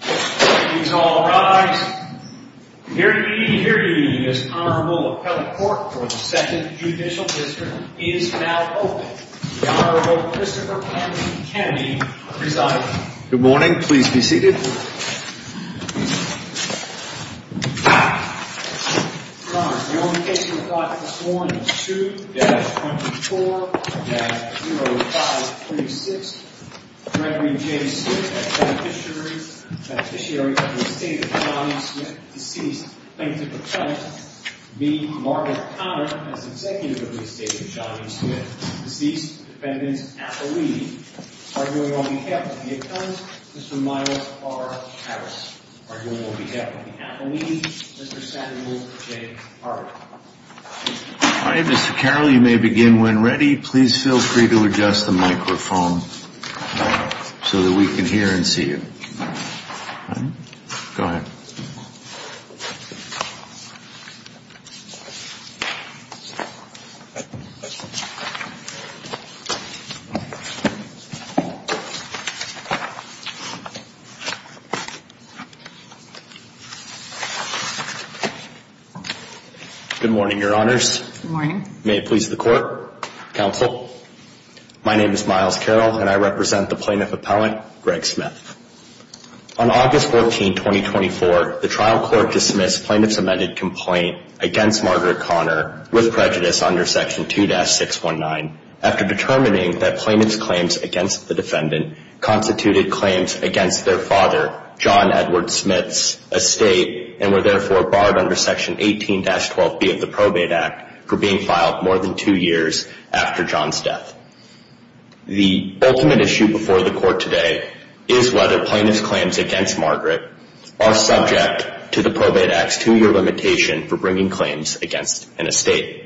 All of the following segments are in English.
Please all rise. Here he is. Honorable appellate court for the second judicial district is now open. The Honorable Christopher Henry Kennedy presiding. Good morning. Please be seated. Your Honor, the only case we've got this morning is 2-24-0536. Gregory J. Smith, a beneficiary of the estate of Johnny Smith, deceased. Plaintiff appellant v. Margaret Connor, as executive of the estate of Johnny Smith, deceased. Defendant's appellee. Arguing on behalf of the appellant, Mr. Myles R. Harris. Arguing on behalf of the appellee, Mr. Samuel J. Hart. All right, Mr. Carroll, you may begin when ready. Please feel free to adjust the microphone so that we can hear and see you. Go ahead. Good morning, Your Honors. Good morning. May it please the court, counsel, my name is Myles Carroll and I represent the plaintiff appellant, Greg Smith. On August 14, 2024, the trial court dismissed plaintiff's amended complaint against Margaret Connor with prejudice under Section 2-619 after determining that plaintiff's claims against the defendant constituted claims against their father, John Edward Smith's estate and were therefore barred under Section 18-12B of the Probate Act for being filed more than two years after John's death. The ultimate issue before the court today is whether plaintiff's claims against Margaret are subject to the Probate Act's two-year limitation for bringing claims against an estate.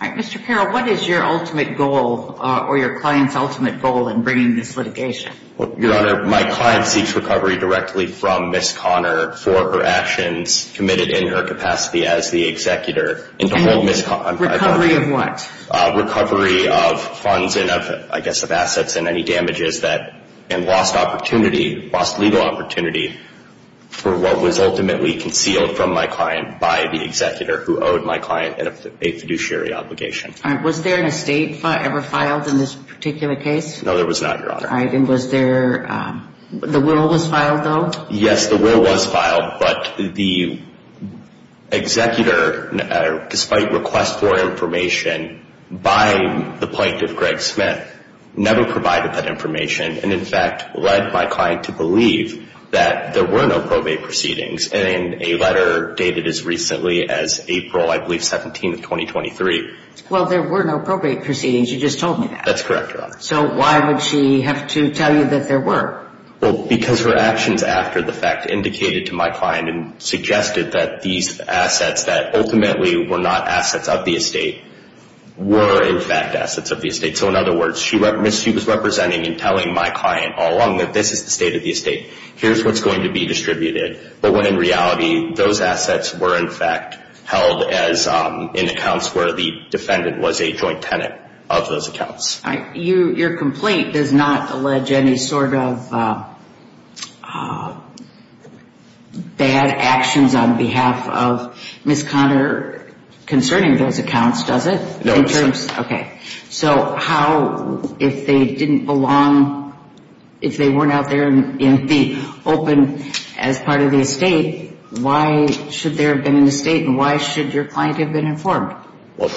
All right, Mr. Carroll, what is your ultimate goal or your client's ultimate goal in bringing this litigation? Your Honor, my client seeks recovery directly from Ms. Connor for her actions committed in her capacity as the executor. Recovery of what? Recovery of funds and, I guess, of assets and any damages that, and lost opportunity, lost legal opportunity for what was ultimately concealed from my client by the executor who owed my client a fiduciary obligation. All right, was there an estate ever filed in this particular case? No, there was not, Your Honor. All right, and was there, the will was filed though? Yes, the will was filed, but the executor, despite request for information by the plaintiff, Greg Smith, never provided that information and, in fact, led my client to believe that there were no probate proceedings in a letter dated as recently as April, I believe, 17 of 2023. Well, there were no probate proceedings. You just told me that. That's correct, Your Honor. So why would she have to tell you that there were? Well, because her actions after the fact indicated to my client and suggested that these assets that ultimately were not assets of the estate were, in fact, assets of the estate. So, in other words, she was representing and telling my client all along that this is the state of the estate. Here's what's going to be distributed. But when, in reality, those assets were, in fact, held in accounts where the defendant was a joint tenant of those accounts. Your complaint does not allege any sort of bad actions on behalf of Ms. Conner concerning those accounts, does it? No, it doesn't. Okay. So how, if they didn't belong, if they weren't out there in the open as part of the estate, why should there have been an estate and why should your client have been informed? Well,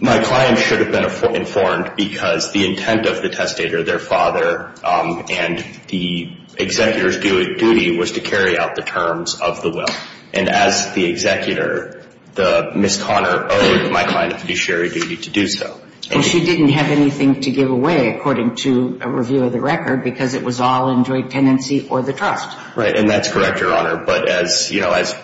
my client should have been informed because the intent of the testator, their father, and the executor's duty was to carry out the terms of the will. And as the executor, Ms. Conner owed my client a fiduciary duty to do so. Well, she didn't have anything to give away, according to a review of the record, because it was all in joint tenancy or the trust. Right. And that's correct, Your Honor. But as, you know, as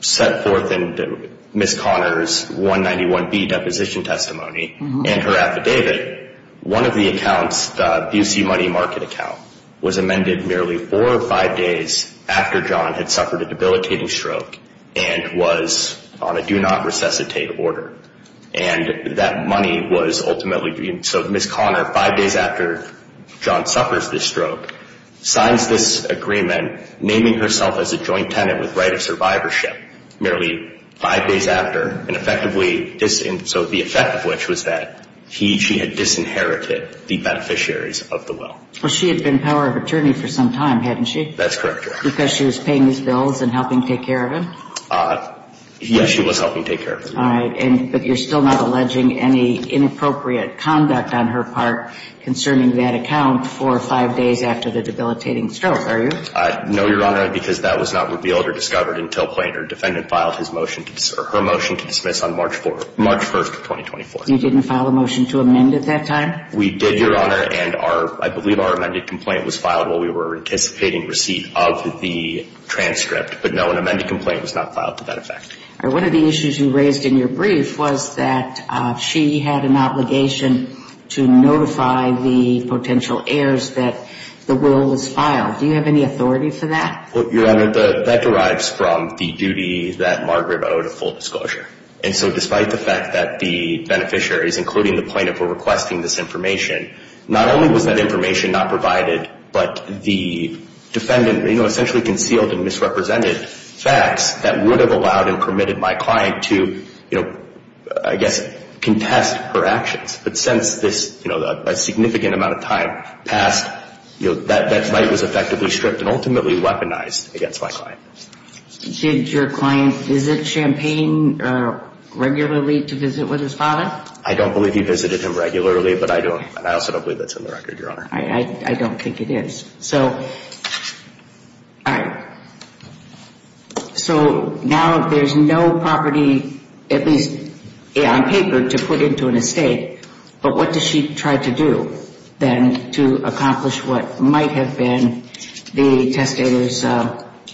set forth in Ms. Conner's 191B deposition testimony and her affidavit, one of the accounts, the UC Money Market account, was amended merely four or five days after John had suffered a debilitating stroke and was on a do-not-resuscitate order. And that money was ultimately, so Ms. Conner, five days after John suffers this stroke, signs this agreement naming herself as a joint tenant with right of survivorship merely five days after and effectively, so the effect of which was that she had disinherited the beneficiaries of the will. Well, she had been power of attorney for some time, hadn't she? That's correct, Your Honor. Because she was paying these bills and helping take care of him? Yes, she was helping take care of him. All right. But you're still not alleging any inappropriate conduct on her part concerning that account for five days after the debilitating stroke, are you? No, Your Honor, because that was not revealed or discovered until Plainer defendant filed her motion to dismiss on March 1st of 2024. You didn't file a motion to amend at that time? We did, Your Honor, and I believe our amended complaint was filed while we were anticipating receipt of the transcript. But no, an amended complaint was not filed to that effect. All right. One of the issues you raised in your brief was that she had an obligation to notify the potential heirs that the will was filed. Do you have any authority for that? Well, Your Honor, that derives from the duty that Margaret owed a full disclosure. And so despite the fact that the beneficiaries, including the plaintiff, were requesting this information, not only was that information not provided, but the defendant essentially concealed and misrepresented facts that would have allowed and permitted my client to, I guess, contest her actions. But since this significant amount of time passed, that right was effectively stripped and ultimately weaponized against my client. Did your client visit Champaign regularly to visit with his father? I don't believe he visited him regularly, but I don't. And I also don't believe that's in the record, Your Honor. I don't think it is. All right. So now there's no property, at least on paper, to put into an estate. But what does she try to do then to accomplish what might have been the testator's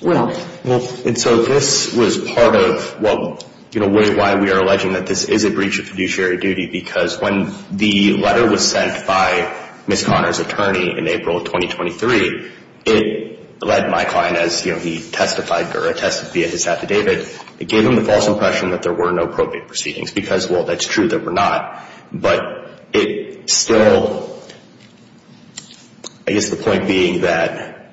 will? And so this was part of why we are alleging that this is a breach of fiduciary duty because when the letter was sent by Ms. Conner's attorney in April of 2023, it led my client as he testified or attested via his affidavit, it gave him the false impression that there were no probate proceedings because, well, that's true, there were not. But it still, I guess the point being that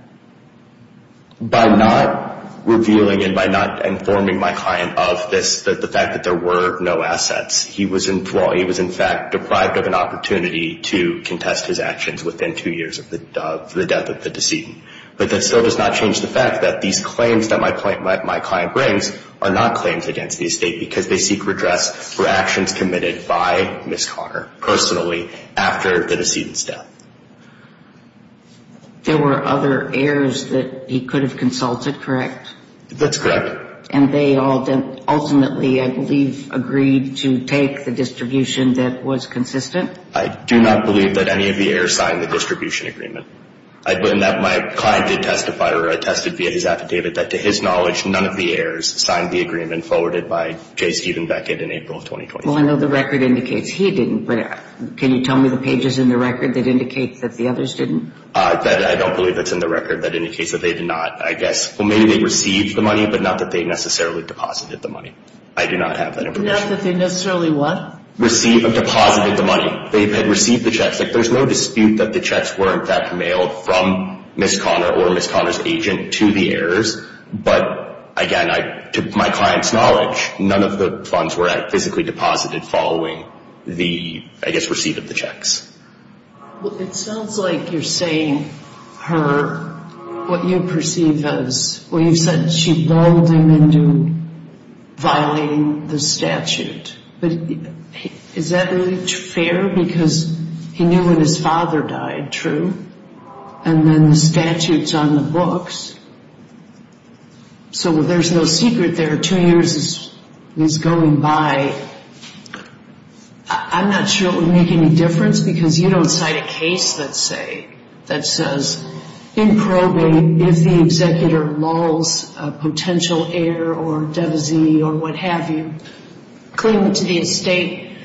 by not revealing and by not informing my client of this, the fact that there were no assets, he was in fact deprived of an opportunity to contest his actions within two years of the death of the decedent. But that still does not change the fact that these claims that my client brings are not claims against the estate because they seek redress for actions committed by Ms. Conner personally after the decedent's death. There were other heirs that he could have consulted, correct? That's correct. And they ultimately, I believe, agreed to take the distribution that was consistent? I do not believe that any of the heirs signed the distribution agreement. My client did testify or attested via his affidavit that, to his knowledge, none of the heirs signed the agreement forwarded by J. Stephen Beckett in April of 2023. Well, I know the record indicates he didn't, but can you tell me the pages in the record that indicate that the others didn't? I don't believe it's in the record that indicates that they did not. I guess, well, maybe they received the money, but not that they necessarily deposited the money. I do not have that information. Not that they necessarily what? Received or deposited the money. They had received the checks. There's no dispute that the checks were, in fact, mailed from Ms. Conner or Ms. Conner's agent to the heirs. But, again, to my client's knowledge, none of the funds were physically deposited following the, I guess, receipt of the checks. Well, it sounds like you're saying her, what you perceive as, well, you said she lulled him into violating the statute. But is that really fair? Because he knew when his father died, true? And then the statute's on the books. So there's no secret there. Two years is going by. I'm not sure it would make any difference, because you don't cite a case that says, in probate, if the executor lulls a potential heir or devisee or what have you, claimant to the estate,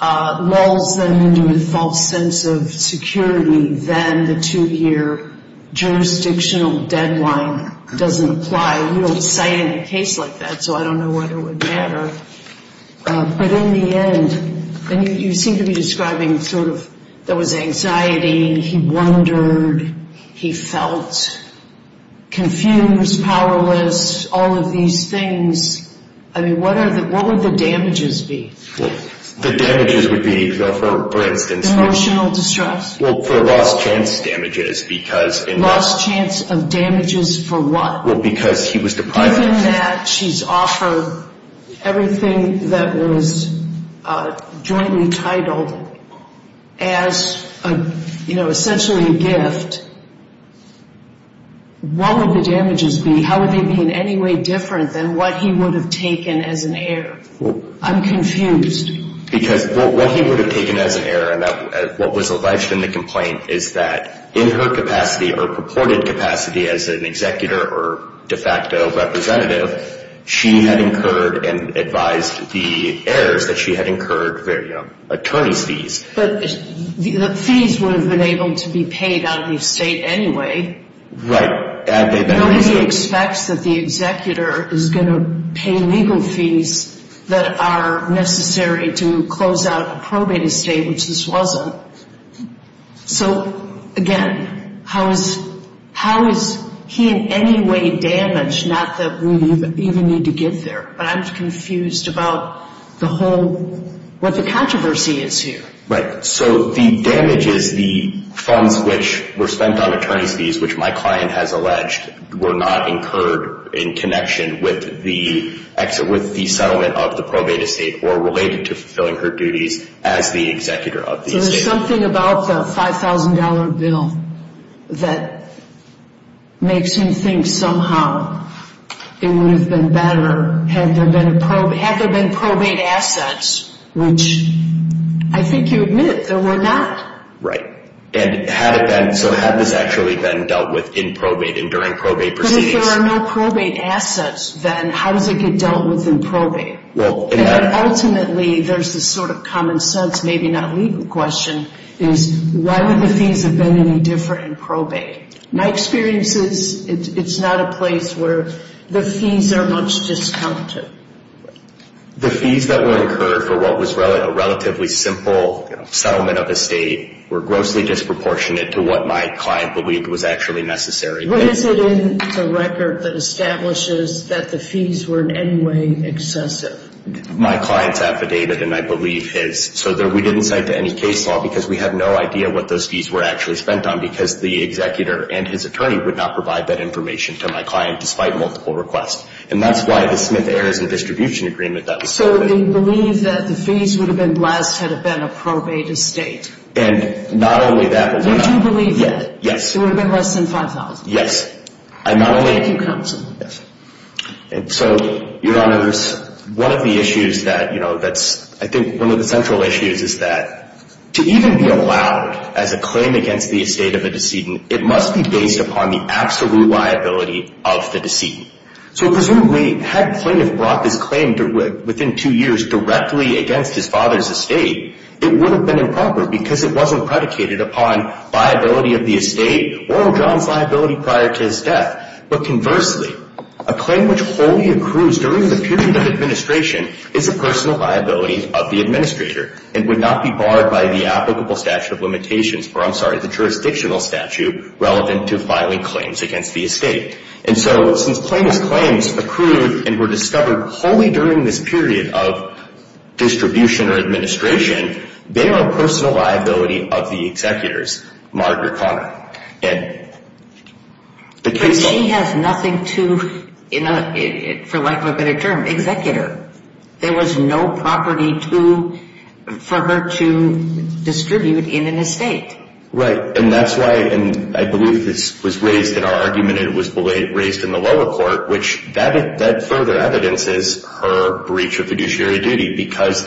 lulls them into a false sense of security, then the two-year jurisdictional deadline doesn't apply. You don't cite any case like that, so I don't know whether it would matter. But in the end, you seem to be describing sort of there was anxiety, he wondered, he felt confused, powerless, all of these things. I mean, what would the damages be? The damages would be, for instance, Emotional distress. Well, for lost chance damages because Lost chance of damages for what? Well, because he was deprived of Given that she's offered everything that was jointly titled as, you know, essentially a gift, what would the damages be? How would they be in any way different than what he would have taken as an heir? I'm confused. Because what he would have taken as an heir and what was alleged in the complaint is that in her capacity or purported capacity as an executor or de facto representative, she had incurred and advised the heirs that she had incurred attorney's fees. But the fees would have been able to be paid out of the estate anyway. Right. Nobody expects that the executor is going to pay legal fees that are necessary to close out a probate estate, which this wasn't. So, again, how is he in any way damaged, not that we even need to get there, but I'm confused about the whole, what the controversy is here. Right. So the damages, the funds which were spent on attorney's fees, which my client has alleged were not incurred in connection with the exit, with the settlement of the probate estate or related to fulfilling her duties as the executor of the estate. So there's something about the $5,000 bill that makes me think somehow it would have been better had there been probate assets, which I think you admit there were not. Right. So had this actually been dealt with in probate and during probate proceedings? If there are no probate assets, then how does it get dealt with in probate? Ultimately, there's this sort of common sense, maybe not legal question, is why would the fees have been any different in probate? My experience is it's not a place where the fees are much discounted. The fees that were incurred for what was a relatively simple settlement of estate were grossly disproportionate to what my client believed was actually necessary. What is it in the record that establishes that the fees were in any way excessive? My client's affidavit, and I believe his, so we didn't cite to any case law because we have no idea what those fees were actually spent on because the executor and his attorney would not provide that information to my client despite multiple requests. And that's why the Smith Heirs and Distribution Agreement that we submitted. So they believe that the fees would have been less had it been a probate estate. And not only that, but we're not. Would you believe that? Yes. It would have been less than $5,000? Yes. I'm not only. Thank you, counsel. Yes. And so, Your Honors, one of the issues that, you know, that's, I think one of the central issues is that to even be allowed as a claim against the estate of a decedent, it must be based upon the absolute liability of the decedent. So presumably, had plaintiff brought this claim within two years directly against his father's estate, it would have been improper because it wasn't predicated upon liability of the estate or John's liability prior to his death. But conversely, a claim which wholly accrues during the period of administration is a personal liability of the administrator and would not be barred by the applicable statute of limitations, or I'm sorry, the jurisdictional statute relevant to filing claims against the estate. And so since plaintiff's claims accrued and were discovered wholly during this period of distribution or administration, they are a personal liability of the executor's, Margaret Conner. But she has nothing to, for lack of a better term, execute her. There was no property for her to distribute in an estate. Right. And that's why, and I believe this was raised in our argument, and it was raised in the lower court, which that further evidences her breach of fiduciary duty because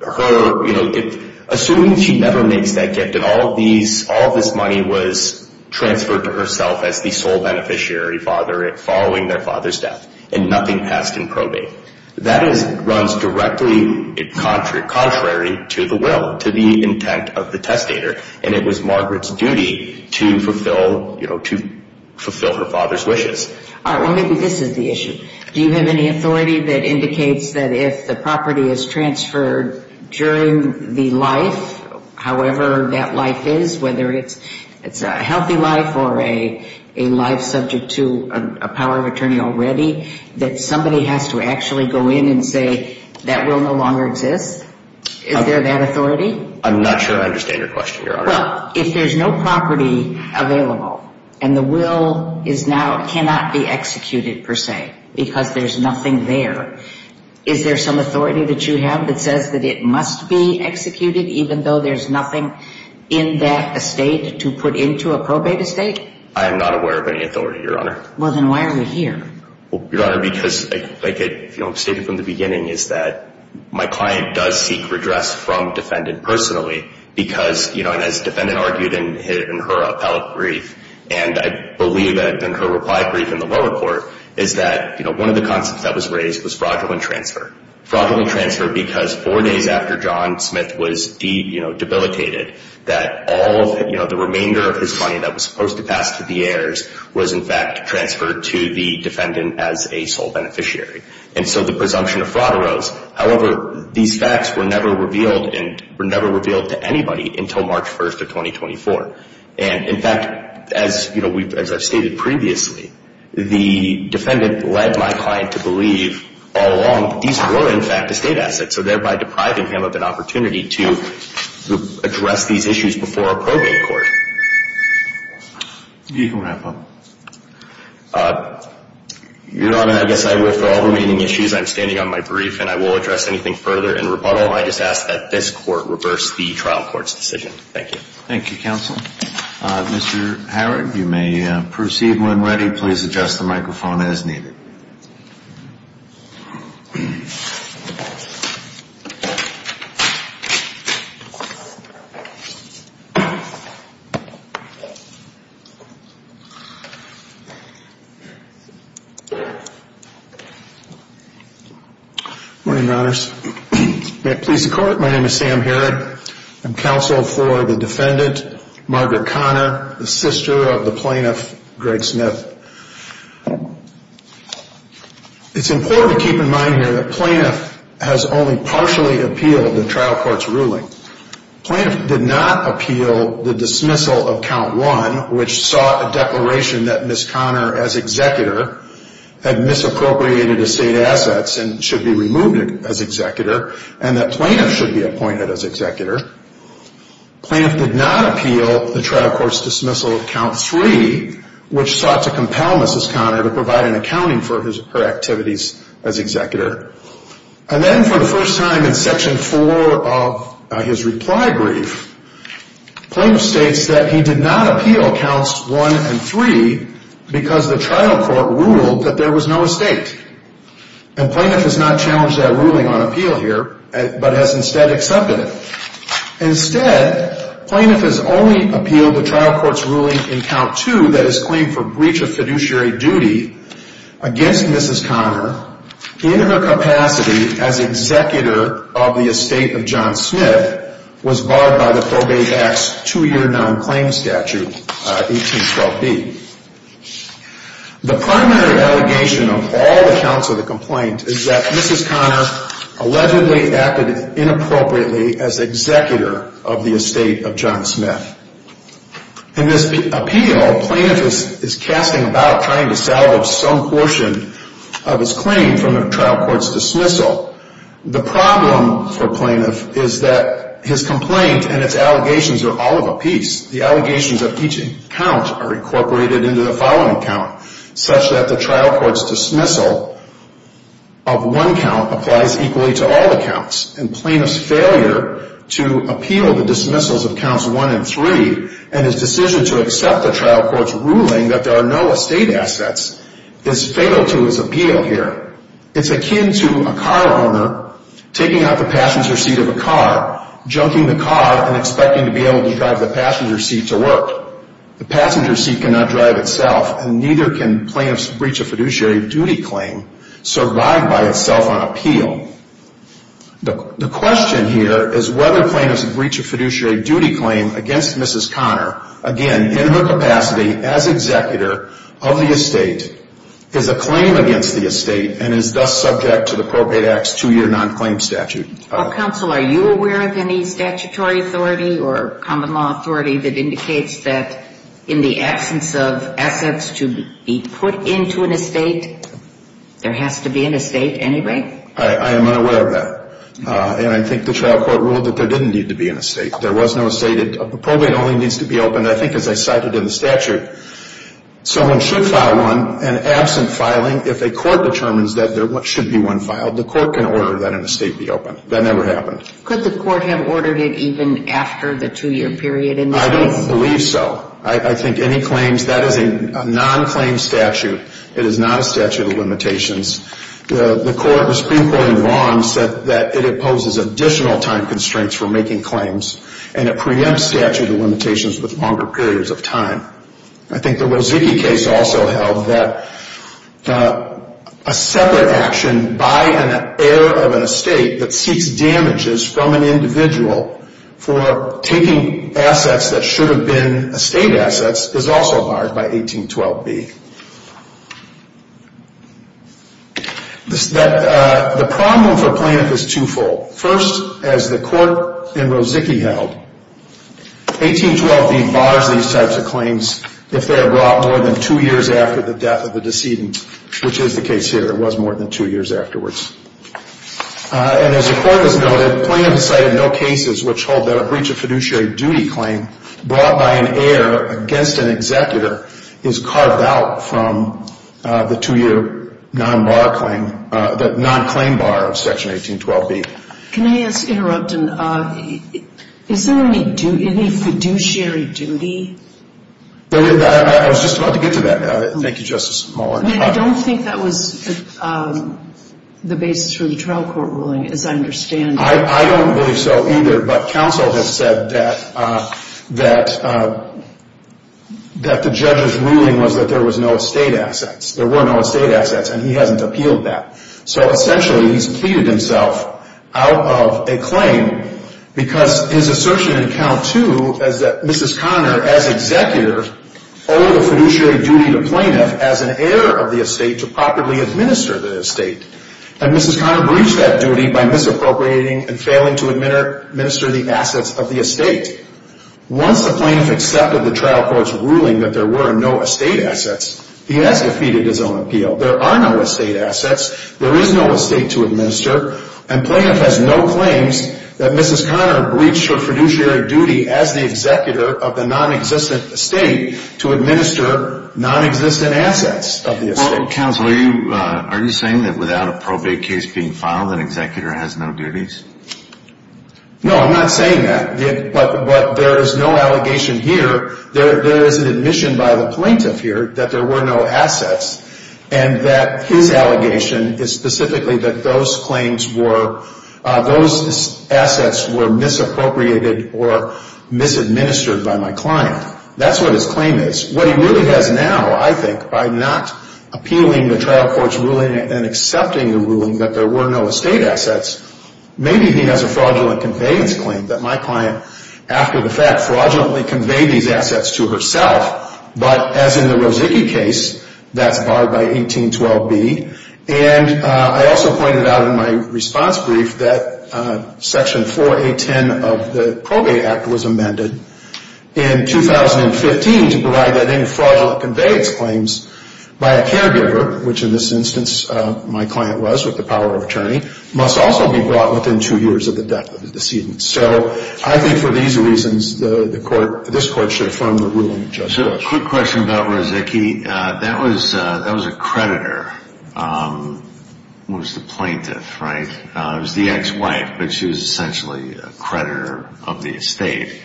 her, you know, assuming she never makes that gift and all of this money was transferred to herself as the sole beneficiary following their father's death and nothing passed in probate, that runs directly contrary to the will, to the intent of the testator. And it was Margaret's duty to fulfill, you know, to fulfill her father's wishes. All right. Well, maybe this is the issue. Do you have any authority that indicates that if the property is transferred during the life, however that life is, whether it's a healthy life or a life subject to a power of attorney already, that somebody has to actually go in and say that will no longer exist? Is there that authority? I'm not sure I understand your question, Your Honor. Well, if there's no property available and the will is now, cannot be executed per se because there's nothing there, is there some authority that you have that says that it must be executed even though there's nothing in that estate to put into a probate estate? I am not aware of any authority, Your Honor. Well, then why are we here? Your Honor, because like I stated from the beginning is that my client does seek redress from defendant personally because, you know, as defendant argued in her appellate brief, and I believe in her reply brief in the lower court, is that, you know, one of the concepts that was raised was fraudulent transfer. Fraudulent transfer because four days after John Smith was, you know, debilitated, that all of, you know, the remainder of his money that was supposed to pass to the heirs was, in fact, transferred to the defendant as a sole beneficiary. And so the presumption of fraud arose. However, these facts were never revealed and were never revealed to anybody until March 1st of 2024. And, in fact, as, you know, as I've stated previously, the defendant led my client to believe all along these were, in fact, estate assets, so thereby depriving him of an opportunity to address these issues before a probate court. You can wrap up. Your Honor, I guess I withdraw the remaining issues. I'm standing on my brief, and I will address anything further in rebuttal. I just ask that this court reverse the trial court's decision. Thank you. Thank you, counsel. Mr. Howard, you may proceed when ready. Please adjust the microphone as needed. Good morning, Your Honors. May it please the Court, my name is Sam Herod. I'm counsel for the defendant, Margaret Conner, the sister of the plaintiff, Greg Smith. It's important to keep in mind here that plaintiff has only partially appealed the trial court's ruling. Plaintiff did not appeal the dismissal of Count 1, which sought a declaration that Ms. Conner, as executor, had misappropriated estate assets and should be removed as executor, and that plaintiff should be appointed as executor. Plaintiff did not appeal the trial court's dismissal of Count 3, which sought to compel Mrs. Conner to provide an accounting for her activities as executor. And then for the first time in Section 4 of his reply brief, plaintiff states that he did not appeal Counts 1 and 3 because the trial court ruled that there was no estate. And plaintiff has not challenged that ruling on appeal here, but has instead accepted it. Instead, plaintiff has only appealed the trial court's ruling in Count 2 that is claimed for breach of fiduciary duty against Mrs. Conner in her capacity as executor of the estate of John Smith was barred by the Probate Act's two-year nonclaim statute, 1812B. The primary allegation of all the counts of the complaint is that Mrs. Conner allegedly acted inappropriately as executor of the estate of John Smith. In this appeal, plaintiff is casting about trying to salvage some portion of his claim from the trial court's dismissal. The problem for plaintiff is that his complaint and its allegations are all of a piece. The allegations of each count are incorporated into the following count, such that the trial court's dismissal of one count applies equally to all the counts. And plaintiff's failure to appeal the dismissals of counts 1 and 3 and his decision to accept the trial court's ruling that there are no estate assets is fatal to his appeal here. It's akin to a car owner taking out the passenger seat of a car, junking the car, and expecting to be able to drive the passenger seat to work. The passenger seat cannot drive itself, and neither can plaintiff's breach of fiduciary duty claim survive by itself on appeal. The question here is whether plaintiff's breach of fiduciary duty claim against Mrs. Conner, again, in her capacity as executor of the estate, is a claim against the estate and is thus subject to the Probate Act's two-year non-claim statute. Counsel, are you aware of any statutory authority or common law authority that indicates that in the absence of assets to be put into an estate, there has to be an estate anyway? I am unaware of that. And I think the trial court ruled that there didn't need to be an estate. There was no estate. A probate only needs to be opened, I think, as I cited in the statute. Someone should file one, and absent filing, if a court determines that there should be one filed, the court can order that an estate be opened. That never happened. Could the court have ordered it even after the two-year period in this case? I don't believe so. I think any claims, that is a non-claim statute. It is not a statute of limitations. The Supreme Court in Vaughan said that it imposes additional time constraints for making claims, and it preempts statute of limitations with longer periods of time. I think the Rozicki case also held that a separate action by an heir of an estate that seeks damages from an individual for taking assets that should have been estate assets is also barred by 1812b. The problem for plaintiff is twofold. First, as the court in Rozicki held, 1812b bars these types of claims if they are brought more than two years after the death of the decedent, which is the case here. It was more than two years afterwards. And as the court has noted, plaintiff has cited no cases which hold that a breach of fiduciary duty claim brought by an heir against an executor is carved out from the two-year non-bar claim, the non-claim bar of Section 1812b. Can I just interrupt? Is there any fiduciary duty? I was just about to get to that. Thank you, Justice Muller. I don't think that was the basis for the trial court ruling, as I understand it. I don't believe so either, but counsel has said that the judge's ruling was that there was no estate assets. There were no estate assets, and he hasn't appealed that. So essentially he's pleaded himself out of a claim because his assertion in count two is that Mrs. Connor, as executor, owed a fiduciary duty to plaintiff as an heir of the estate to properly administer the estate. And Mrs. Connor breached that duty by misappropriating and failing to administer the assets of the estate. Once the plaintiff accepted the trial court's ruling that there were no estate assets, he has defeated his own appeal. There are no estate assets. There is no estate to administer. And plaintiff has no claims that Mrs. Connor breached her fiduciary duty as the executor of the nonexistent estate to administer nonexistent assets of the estate. Well, counsel, are you saying that without a probate case being filed, an executor has no duties? No, I'm not saying that. But there is no allegation here. There is an admission by the plaintiff here that there were no assets and that his allegation is specifically that those claims were, those assets were misappropriated or misadministered by my client. That's what his claim is. What he really has now, I think, by not appealing the trial court's ruling and accepting the ruling that there were no estate assets, maybe he has a fraudulent conveyance claim that my client, after the fact, fraudulently conveyed these assets to herself. But as in the Rozicki case, that's barred by 1812B. And I also pointed out in my response brief that Section 4A.10 of the Probate Act was amended in 2015 to provide that any fraudulent conveyance claims by a caregiver, which in this instance my client was with the power of attorney, must also be brought within two years of the death of the decedent. So I think for these reasons, this court should affirm the ruling. So a quick question about Rozicki. That was a creditor. It was the plaintiff, right? It was the ex-wife, but she was essentially a creditor of the estate.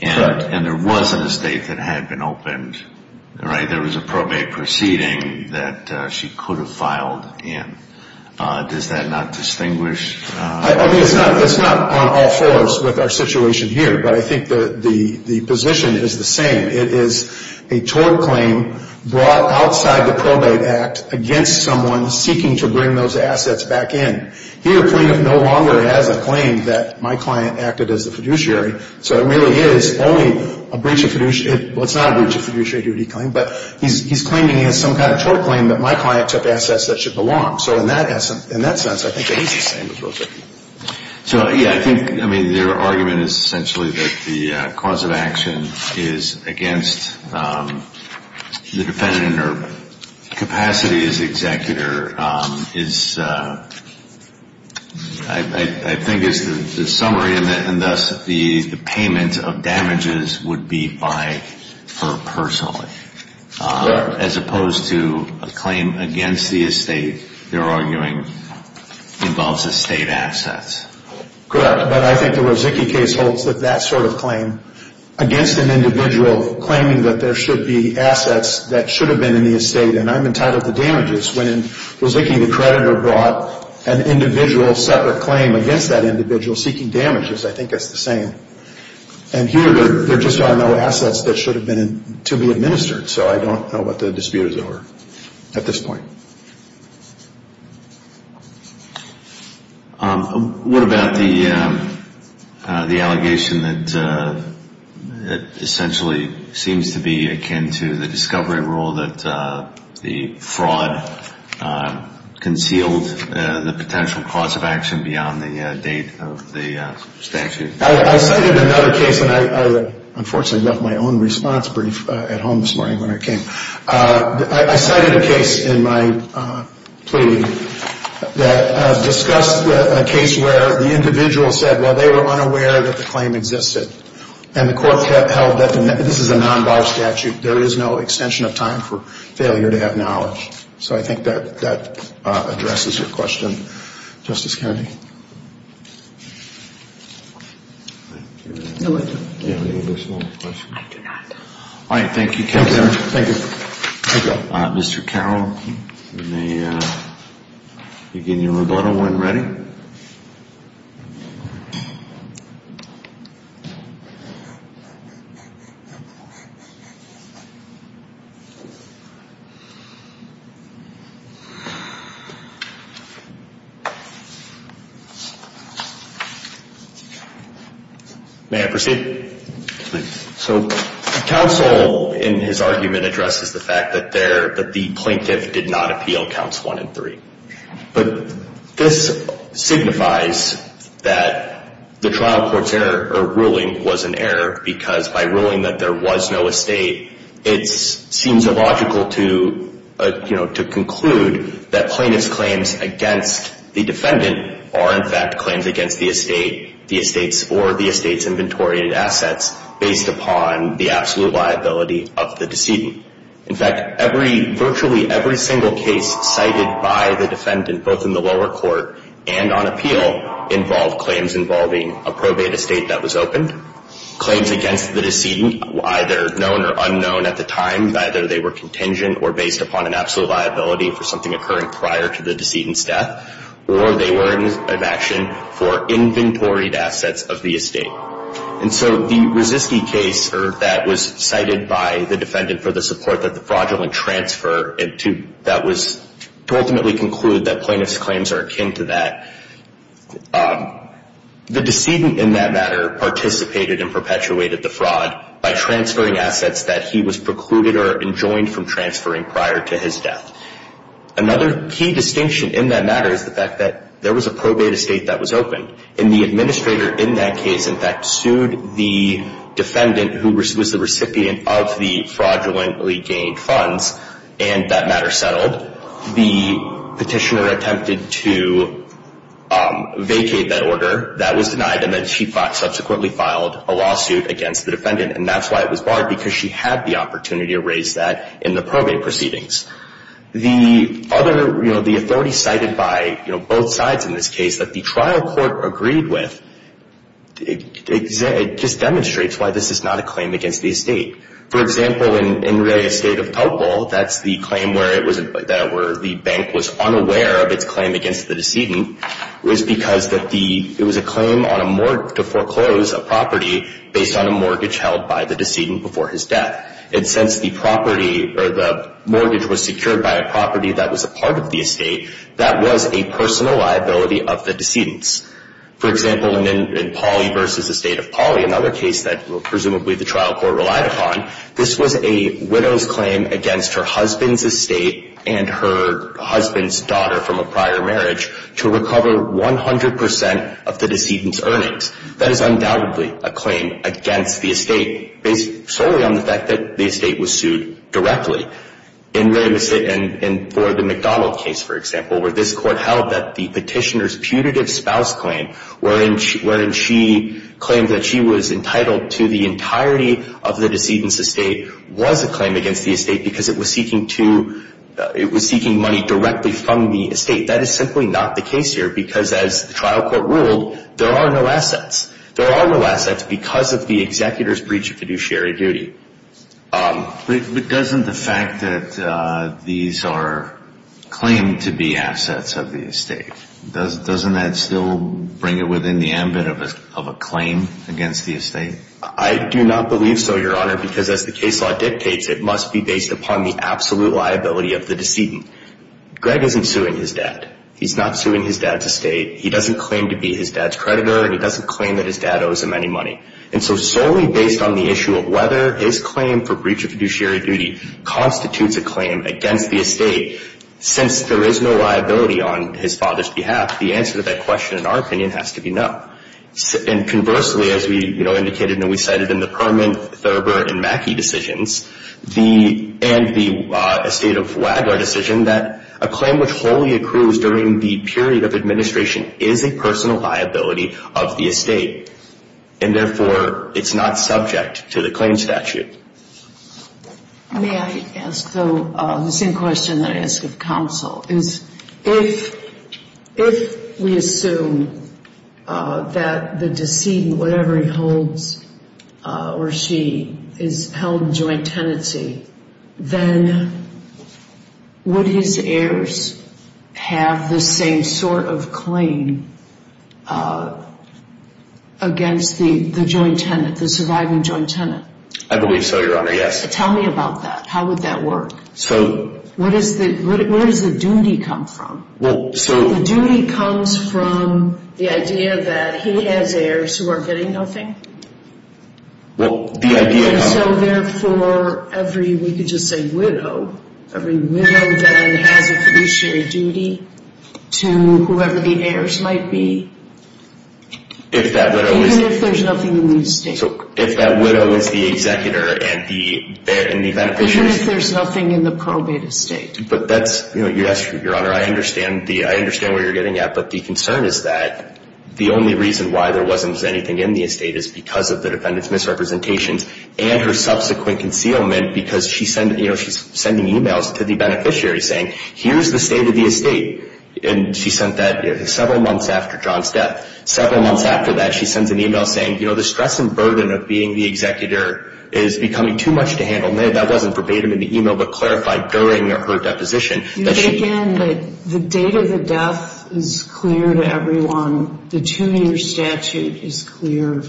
Correct. And there was an estate that had been opened, right? There was a probate proceeding that she could have filed in. Does that not distinguish? I mean, it's not on all fours with our situation here, but I think the position is the same. It is a tort claim brought outside the Probate Act against someone seeking to bring those assets back in. Here, the plaintiff no longer has a claim that my client acted as the fiduciary, so it really is only a breach of fiduciary. Well, it's not a breach of fiduciary duty claim, but he's claiming he has some kind of tort claim that my client took assets that should belong. So in that sense, I think it is the same as Rozicki. So, yeah, I think, I mean, their argument is essentially that the cause of action is against the defendant or capacity as executor is, I think is the summary, and thus the payment of damages would be by her personally. Correct. As opposed to a claim against the estate they're arguing involves estate assets. Correct. But I think the Rozicki case holds that that sort of claim against an individual, claiming that there should be assets that should have been in the estate, and I'm entitled to damages. When Rozicki, the creditor, brought an individual separate claim against that individual seeking damages, I think it's the same. And here, there just are no assets that should have been to be administered, so I don't know what the dispute is over at this point. What about the allegation that essentially seems to be akin to the discovery rule that the fraud concealed the potential cause of action beyond the date of the statute? I cited another case, and I unfortunately left my own response brief at home this morning when I came. I cited a case in my plea that discussed a case where the individual said, well, they were unaware that the claim existed, and the court held that this is a non-bar statute. There is no extension of time for failure to have knowledge. So I think that addresses your question, Justice Kennedy. All right, thank you. Thank you. Thank you. Mr. Carroll, you may begin your rebuttal when ready. May I proceed? Please. So the counsel in his argument addresses the fact that the plaintiff did not appeal counts one and three. But this signifies that the trial court's ruling was an error, because by ruling that there was no estate, it seems illogical to conclude that plaintiff's claims against the defendant are, in fact, claims against the estate or the estate's inventory and assets based upon the absolute liability of the decedent. In fact, virtually every single case cited by the defendant, both in the lower court and on appeal, involved claims involving a probate estate that was opened, claims against the decedent, either known or unknown at the time, either they were contingent or based upon an absolute liability for something occurring prior to the decedent's death, or they were in action for inventoried assets of the estate. And so the Roziski case that was cited by the defendant for the support that the fraudulent transfer, to ultimately conclude that plaintiff's claims are akin to that, the decedent in that matter participated and perpetuated the fraud by transferring assets that he was precluded or enjoined from transferring prior to his death. Another key distinction in that matter is the fact that there was a probate estate that was opened, and the administrator in that case, in fact, sued the defendant, who was the recipient of the fraudulently gained funds, and that matter settled. The petitioner attempted to vacate that order. That was denied, and then she subsequently filed a lawsuit against the defendant, and that's why it was barred, because she had the opportunity to raise that in the probate proceedings. The authority cited by both sides in this case that the trial court agreed with just demonstrates why this is not a claim against the estate. For example, in Ray Estate of Topol, that's the claim where the bank was unaware of its claim against the decedent, was because it was a claim to foreclose a property based on a mortgage held by the decedent before his death. And since the mortgage was secured by a property that was a part of the estate, that was a personal liability of the decedent's. For example, in Pauley v. Estate of Pauley, another case that presumably the trial court relied upon, this was a widow's claim against her husband's estate and her husband's daughter from a prior marriage to recover 100 percent of the decedent's earnings. That is undoubtedly a claim against the estate based solely on the fact that the estate was sued directly. And for the McDonald case, for example, where this court held that the petitioner's putative spouse claim wherein she claimed that she was entitled to the entirety of the decedent's estate was a claim against the estate because it was seeking money directly from the estate. That is simply not the case here because, as the trial court ruled, there are no assets. There are no assets because of the executor's breach of fiduciary duty. But doesn't the fact that these are claimed-to-be assets of the estate, doesn't that still bring it within the ambit of a claim against the estate? I do not believe so, Your Honor, because as the case law dictates, it must be based upon the absolute liability of the decedent. Greg isn't suing his dad. He's not suing his dad's estate. He doesn't claim to be his dad's creditor, and he doesn't claim that his dad owes him any money. And so solely based on the issue of whether his claim for breach of fiduciary duty constitutes a claim against the estate, since there is no liability on his father's behalf, the answer to that question, in our opinion, has to be no. And conversely, as we indicated and we cited in the Perlman, Thurber, and Mackey decisions, and the estate of Wagler decision, that a claim which wholly accrues during the period of administration is a personal liability of the estate, and therefore it's not subject to the claim statute. May I ask, though, the same question that I ask of counsel, is if we assume that the decedent, whatever he holds or she, is held in joint tenancy, then would his heirs have the same sort of claim against the joint tenant, the surviving joint tenant? I believe so, Your Honor, yes. Tell me about that. How would that work? Where does the duty come from? The duty comes from the idea that he has heirs who are getting nothing. And so therefore, every, we could just say widow, every widow then has a fiduciary duty to whoever the heirs might be. Even if there's nothing in the estate. So if that widow is the executor and the beneficiaries... Even if there's nothing in the probate estate. But that's, yes, Your Honor, I understand where you're getting at, but the concern is that the only reason why there wasn't anything in the estate is because of the defendant's misrepresentations and her subsequent concealment because she's sending e-mails to the beneficiary saying, here's the state of the estate. And she sent that several months after John's death. Several months after that, she sends an e-mail saying, you know, the stress and burden of being the executor is becoming too much to handle. And that wasn't verbatim in the e-mail, but clarified during her deposition. But again, the date of the death is clear to everyone. The two-year statute is clear.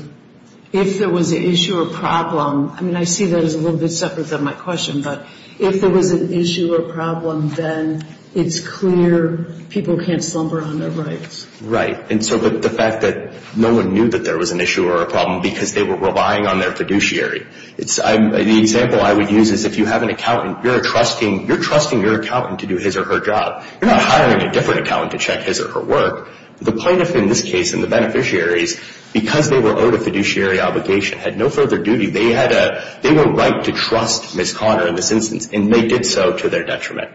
If there was an issue or problem, I mean, I see that as a little bit separate than my question, but if there was an issue or problem, then it's clear people can't slumber on their rights. Right. And so the fact that no one knew that there was an issue or a problem because they were relying on their fiduciary. The example I would use is if you have an accountant, you're trusting your accountant to do his or her job. You're not hiring a different accountant to check his or her work. The plaintiff in this case and the beneficiaries, because they were owed a fiduciary obligation, had no further duty. They had a right to trust Ms. Conner in this instance, and they did so to their detriment.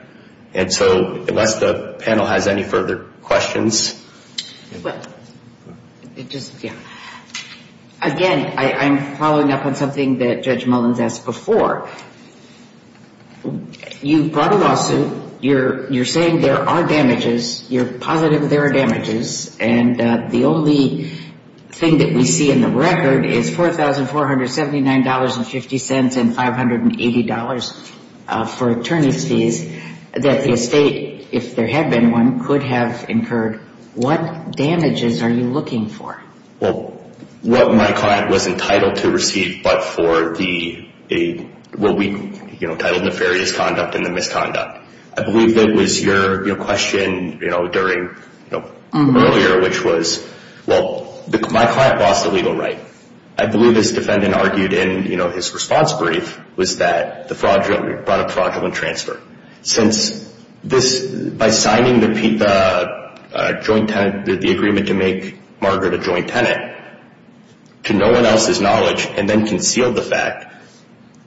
And so unless the panel has any further questions. Again, I'm following up on something that Judge Mullins asked before. You brought a lawsuit. You're saying there are damages. You're positive there are damages. And the only thing that we see in the record is $4,479.50 and $580 for attorney's fees that the estate, if there had been one, could have incurred. What damages are you looking for? Well, what my client was entitled to receive but for the, what we titled nefarious conduct and the misconduct. I believe that was your question earlier, which was, well, my client lost a legal right. I believe this defendant argued in his response brief was that the fraudulent transfer. Since this, by signing the joint tenant, the agreement to make Margaret a joint tenant, to no one else's knowledge, and then concealed the fact,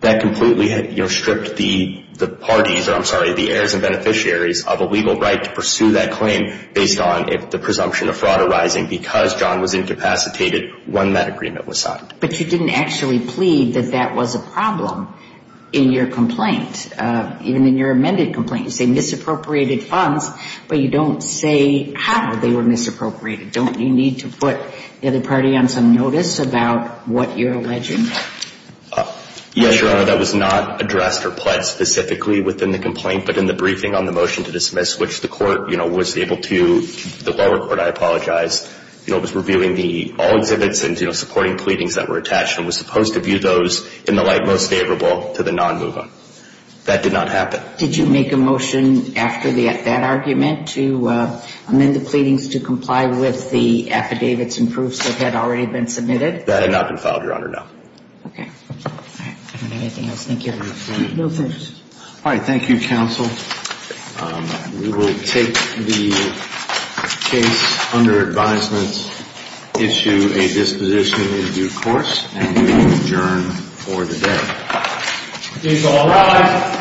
that completely stripped the parties, or I'm sorry, the heirs and beneficiaries of a legal right to pursue that claim based on if the presumption of fraud arising because John was incapacitated when that agreement was signed. But you didn't actually plead that that was a problem in your complaint, even in your amended complaint. You say misappropriated funds, but you don't say how they were misappropriated. Don't you need to put the other party on some notice about what you're alleging? Yes, Your Honor, that was not addressed or pledged specifically within the complaint, but in the briefing on the motion to dismiss, which the court was able to, the lower court, I apologize, was reviewing all exhibits and supporting pleadings that were attached and was supposed to view those in the light most favorable to the non-mover. That did not happen. Did you make a motion after that argument to amend the pleadings to comply with the affidavits and proofs that had already been submitted? That had not been filed, Your Honor, no. Okay. All right. I don't have anything else. Thank you. No, thank you. All right, thank you, counsel. We will take the case under advisement, issue a disposition in due course, and we adjourn for the day. Case all rise.